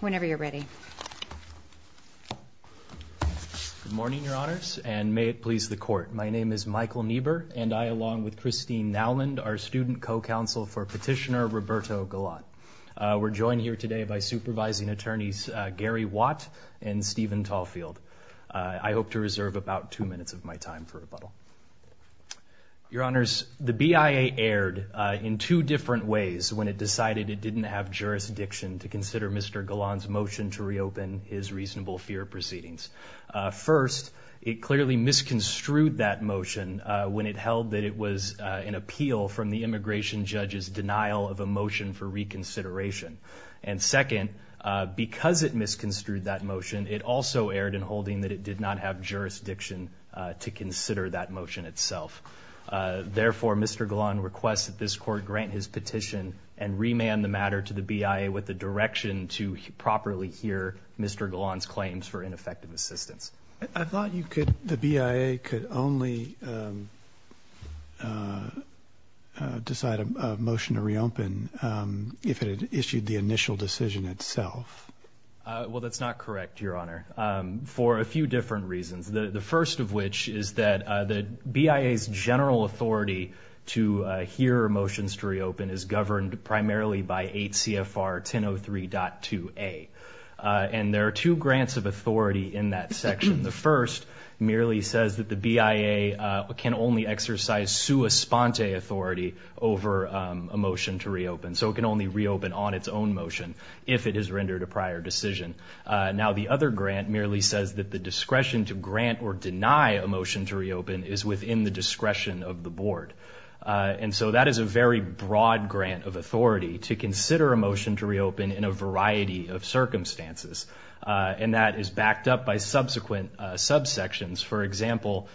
Whenever you're ready. Good morning, Your Honors, and may it please the Court. My name is Michael Niebuhr, and I, along with Christine Naumann, are student co-counsel for Petitioner Roberto Galan. We're joined here today by supervising attorneys Gary Watt and Stephen Tallfield. I hope to reserve about two minutes of my time for rebuttal. Your Honors, the BIA erred in two different ways when it decided it didn't have jurisdiction to consider Mr. Galan's motion to reopen his reasonable fear proceedings. First, it clearly misconstrued that motion when it held that it was an appeal from the immigration judge's denial of a motion for reconsideration. And second, because it misconstrued that motion, it also erred in holding that it did not have jurisdiction to consider that motion itself. Therefore, Mr. Galan requests that this Court grant his petition and remand the matter to the BIA with the direction to properly hear Mr. Galan's claims for ineffective assistance. I thought the BIA could only decide a motion to reopen if it had issued the initial decision itself. Well, that's not correct, Your Honor, for a few different reasons. The first of which is that the BIA's general authority to hear motions to reopen is governed primarily by 8 CFR 1003.2a. And there are two grants of authority in that section. The first merely says that the BIA can only exercise sua sponte authority over a motion to reopen. So it can only reopen on its own motion if it has rendered a prior decision. Now, the other grant merely says that the discretion to grant or deny a motion to reopen is within the discretion of the Board. And so that is a very broad grant of authority to consider a motion to reopen in a variety of circumstances. And that is backed up by subsequent subsections. For example,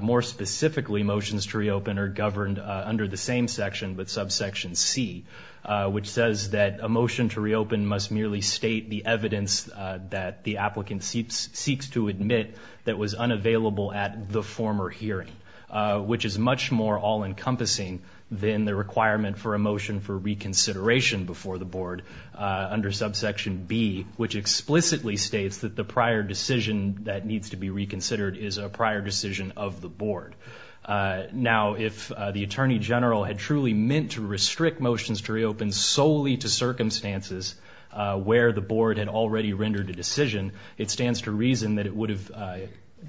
more specifically, motions to reopen are governed under the same section, but subsection C, which says that a motion to reopen must merely state the evidence that the applicant seeks to admit that was unavailable at the former hearing, which is much more all-encompassing than the requirement for a motion for reconsideration before the Board under subsection B, which explicitly states that the prior decision that needs to be reconsidered is a prior decision of the Board. Now, if the Attorney General had truly meant to restrict motions to reopen solely to circumstances where the Board had already rendered a decision, it stands to reason that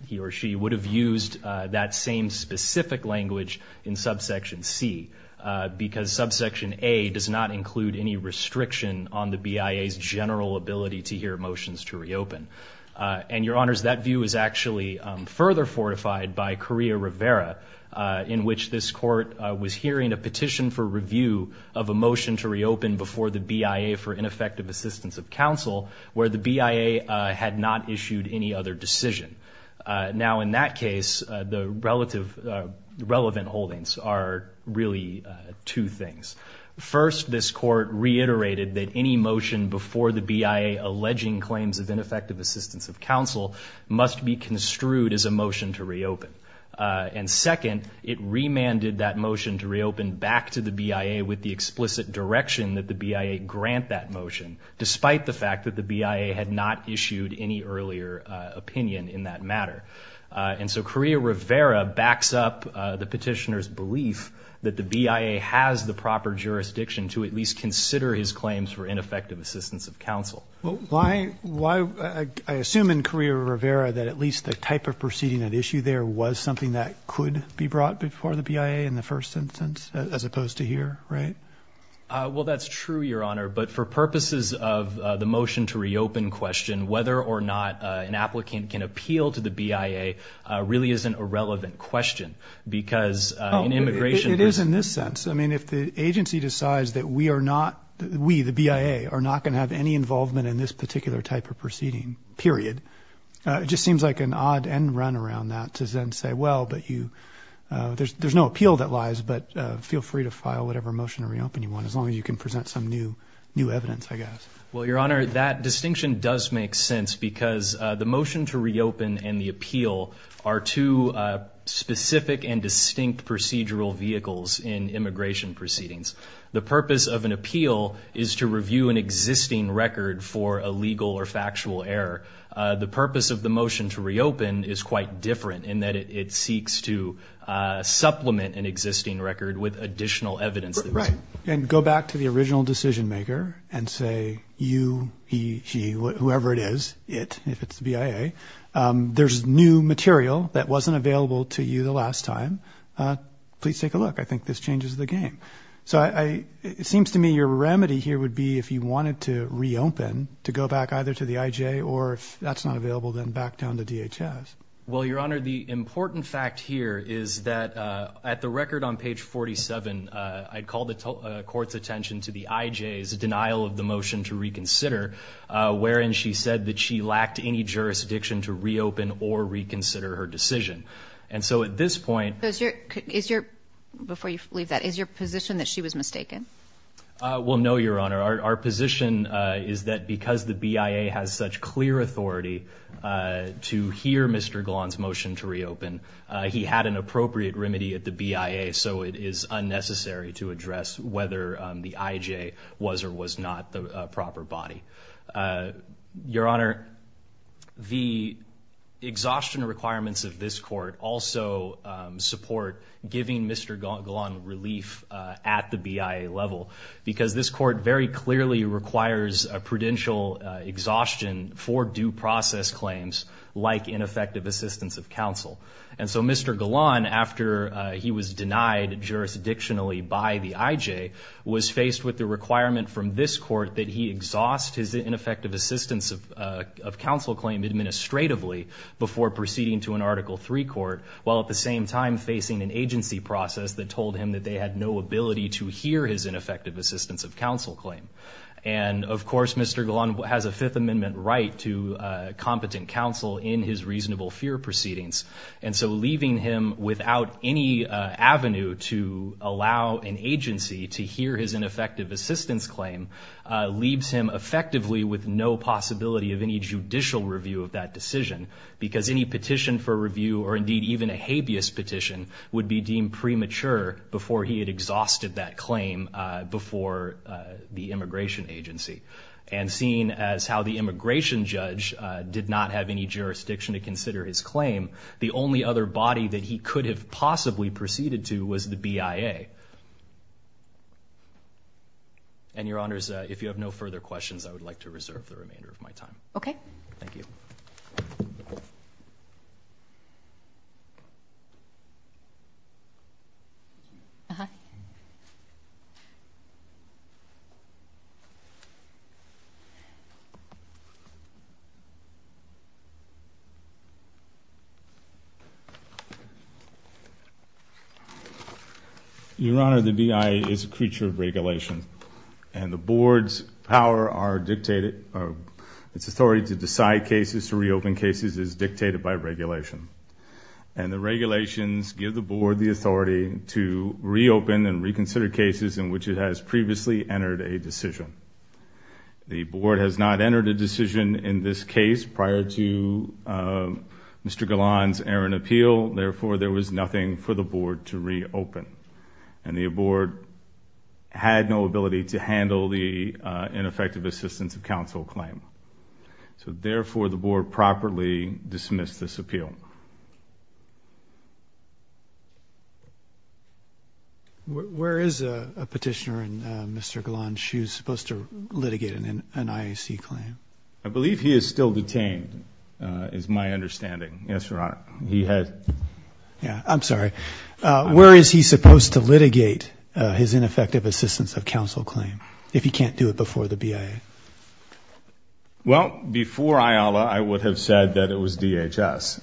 he or she would have used that same specific language in subsection C, because subsection A does not include any restriction on the BIA's general ability to hear motions to reopen. And, Your Honors, that view is actually further fortified by Correa Rivera, in which this Court was hearing a petition for review of a motion to reopen before the BIA for ineffective assistance of counsel, where the BIA had not issued any other decision. Now, in that case, the relevant holdings are really two things. First, this Court reiterated that any motion before the BIA alleging claims of ineffective assistance of counsel must be construed as a motion to reopen. And second, it remanded that motion to reopen back to the BIA with the explicit direction that the BIA grant that motion, despite the fact that the BIA had not issued any earlier opinion in that matter. And so Correa Rivera backs up the petitioner's belief that the BIA has the proper jurisdiction to at least consider his claims for ineffective assistance of counsel. Well, I assume in Correa Rivera that at least the type of proceeding at issue there was something that could be brought before the BIA in the first instance, as opposed to here, right? Well, that's true, Your Honor. But for purposes of the motion to reopen question, whether or not an applicant can appeal to the BIA really isn't a relevant question, because in immigration- It is in this sense. I mean, if the agency decides that we are not – we, the BIA, are not going to have any involvement in this particular type of proceeding, period, it just seems like an odd end run around that to then say, well, but you – there's no appeal that lies, but feel free to file whatever motion to reopen you want as long as you can present some new evidence, I guess. Well, Your Honor, that distinction does make sense because the motion to reopen and the appeal are two specific and distinct procedural vehicles in immigration proceedings. The purpose of an appeal is to review an existing record for a legal or factual error. The purpose of the motion to reopen is quite different in that it seeks to supplement an existing record with additional evidence. Right. And go back to the original decision-maker and say, you, he, she, whoever it is, it, if it's the BIA, there's new material that wasn't available to you the last time. Please take a look. I think this changes the game. So it seems to me your remedy here would be if you wanted to reopen to go back either to the IJ or if that's not available, then back down to DHS. Well, Your Honor, the important fact here is that at the record on page 47, I called the court's attention to the IJ's denial of the motion to reconsider, wherein she said that she lacked any jurisdiction to reopen or reconsider her decision. And so at this point – Before you leave that, is your position that she was mistaken? Well, no, Your Honor. Our position is that because the BIA has such clear authority to hear Mr. Glahn's motion to reopen, he had an appropriate remedy at the BIA, so it is unnecessary to address whether the IJ was or was not the proper body. Your Honor, the exhaustion requirements of this court also support giving Mr. Glahn relief at the BIA level because this court very clearly requires a prudential exhaustion for due process claims like ineffective assistance of counsel. And so Mr. Glahn, after he was denied jurisdictionally by the IJ, was faced with the requirement from this court that he exhaust his ineffective assistance of counsel claim administratively before proceeding to an Article III court, while at the same time facing an agency process that told him that they had no ability to hear his ineffective assistance of counsel claim. And, of course, Mr. Glahn has a Fifth Amendment right to competent counsel in his reasonable fear proceedings, and so leaving him without any avenue to allow an agency to hear his ineffective assistance claim leaves him effectively with no possibility of any judicial review of that decision because any petition for review, or indeed even a habeas petition, would be deemed premature before he had exhausted that claim before the immigration agency. And seeing as how the immigration judge did not have any jurisdiction to consider his claim, the only other body that he could have possibly proceeded to was the BIA. And, Your Honors, if you have no further questions, I would like to reserve the remainder of my time. Okay. Thank you. Your Honor, the BIA is a creature of regulation, and the Board's power are dictated, or its authority to decide cases, to reopen cases is dictated by regulation. And the regulations give the Board the authority to reopen and reconsider cases in which it has previously entered a decision. The Board has not entered a decision in this case prior to Mr. Glahn's errant appeal. Therefore, there was nothing for the Board to reopen. And the Board had no ability to handle the ineffective assistance of counsel claim. So, therefore, the Board properly dismissed this appeal. Thank you. Where is a petitioner in Mr. Glahn's shoes supposed to litigate an IAC claim? I believe he is still detained, is my understanding. Yes, Your Honor. I'm sorry. Where is he supposed to litigate his ineffective assistance of counsel claim if he can't do it before the BIA? Well, before IALA, I would have said that it was DHS.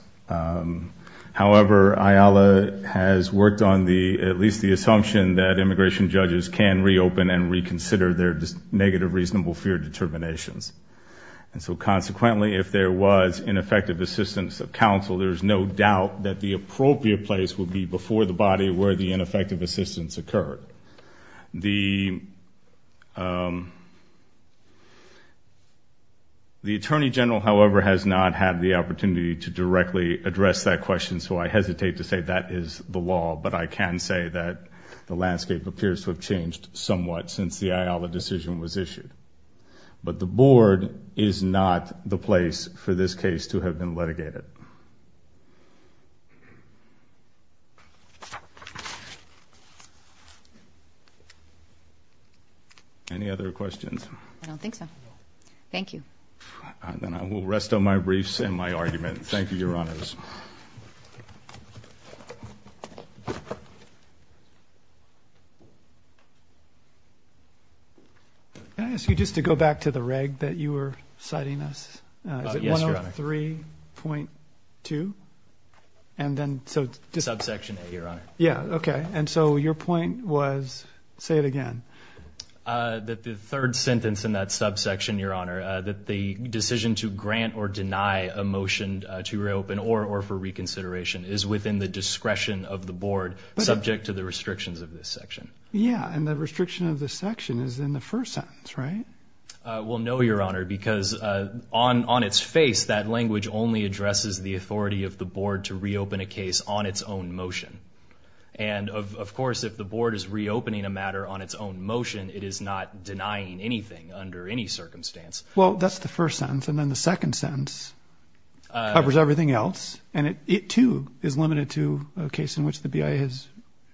However, IALA has worked on at least the assumption that immigration judges can reopen and reconsider their negative reasonable fear determinations. And so, consequently, if there was ineffective assistance of counsel, there is no doubt that the appropriate place would be before the body where the ineffective assistance occurred. The Attorney General, however, has not had the opportunity to directly address that question, so I hesitate to say that is the law. But I can say that the landscape appears to have changed somewhat since the IALA decision was issued. But the board is not the place for this case to have been litigated. Any other questions? I don't think so. Thank you. Then I will rest on my briefs and my argument. Thank you, Your Honors. Thank you, Your Honors. Can I ask you just to go back to the reg that you were citing us? Yes, Your Honor. Is it 103.2? Subsection A, Your Honor. Yeah, okay. And so your point was, say it again. That the third sentence in that subsection, Your Honor, that the decision to grant or deny a motion to reopen or for reconsideration is within the discretion of the board, subject to the restrictions of this section. Yeah, and the restriction of this section is in the first sentence, right? Well, no, Your Honor, because on its face, that language only addresses the authority of the board to reopen a case on its own motion. And, of course, if the board is reopening a matter on its own motion, it is not denying anything under any circumstance. Well, that's the first sentence. And then the second sentence covers everything else. And it, too, is limited to a case in which the BIA has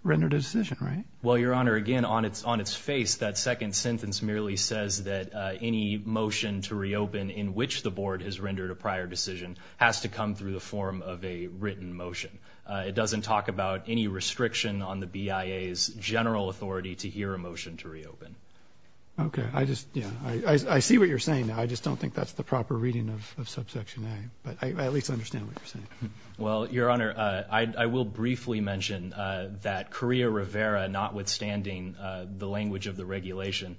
rendered a decision, right? Well, Your Honor, again, on its face, that second sentence merely says that any motion to reopen in which the board has rendered a prior decision has to come through the form of a written motion. It doesn't talk about any restriction on the BIA's general authority to hear a motion to reopen. Okay. I just, yeah, I see what you're saying. I just don't think that's the proper reading of subsection A. But I at least understand what you're saying. Well, Your Honor, I will briefly mention that Correa Rivera, notwithstanding the language of the regulation,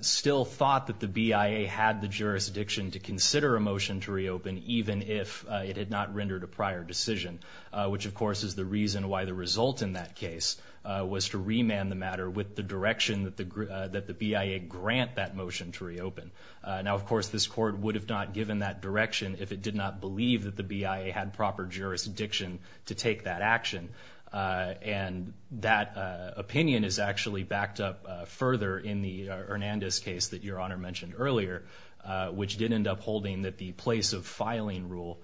still thought that the BIA had the jurisdiction to consider a motion to reopen even if it had not rendered a prior decision, which, of course, is the reason why the result in that case was to remand the matter with the direction that the BIA grant that motion to reopen. Now, of course, this court would have not given that direction if it did not believe that the BIA had proper jurisdiction to take that action. And that opinion is actually backed up further in the Hernandez case that Your Honor mentioned earlier, which did end up holding that the place of filing rule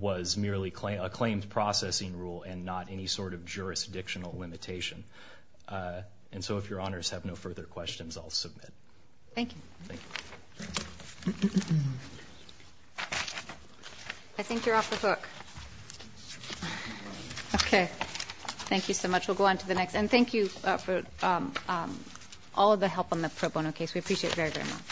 was merely a claims processing rule and not any sort of jurisdictional limitation. And so if Your Honors have no further questions, I'll submit. Thank you. I think you're off the hook. Okay. Thank you so much. We'll go on to the next. And thank you for all the help on the pro bono case. We appreciate it very, very much.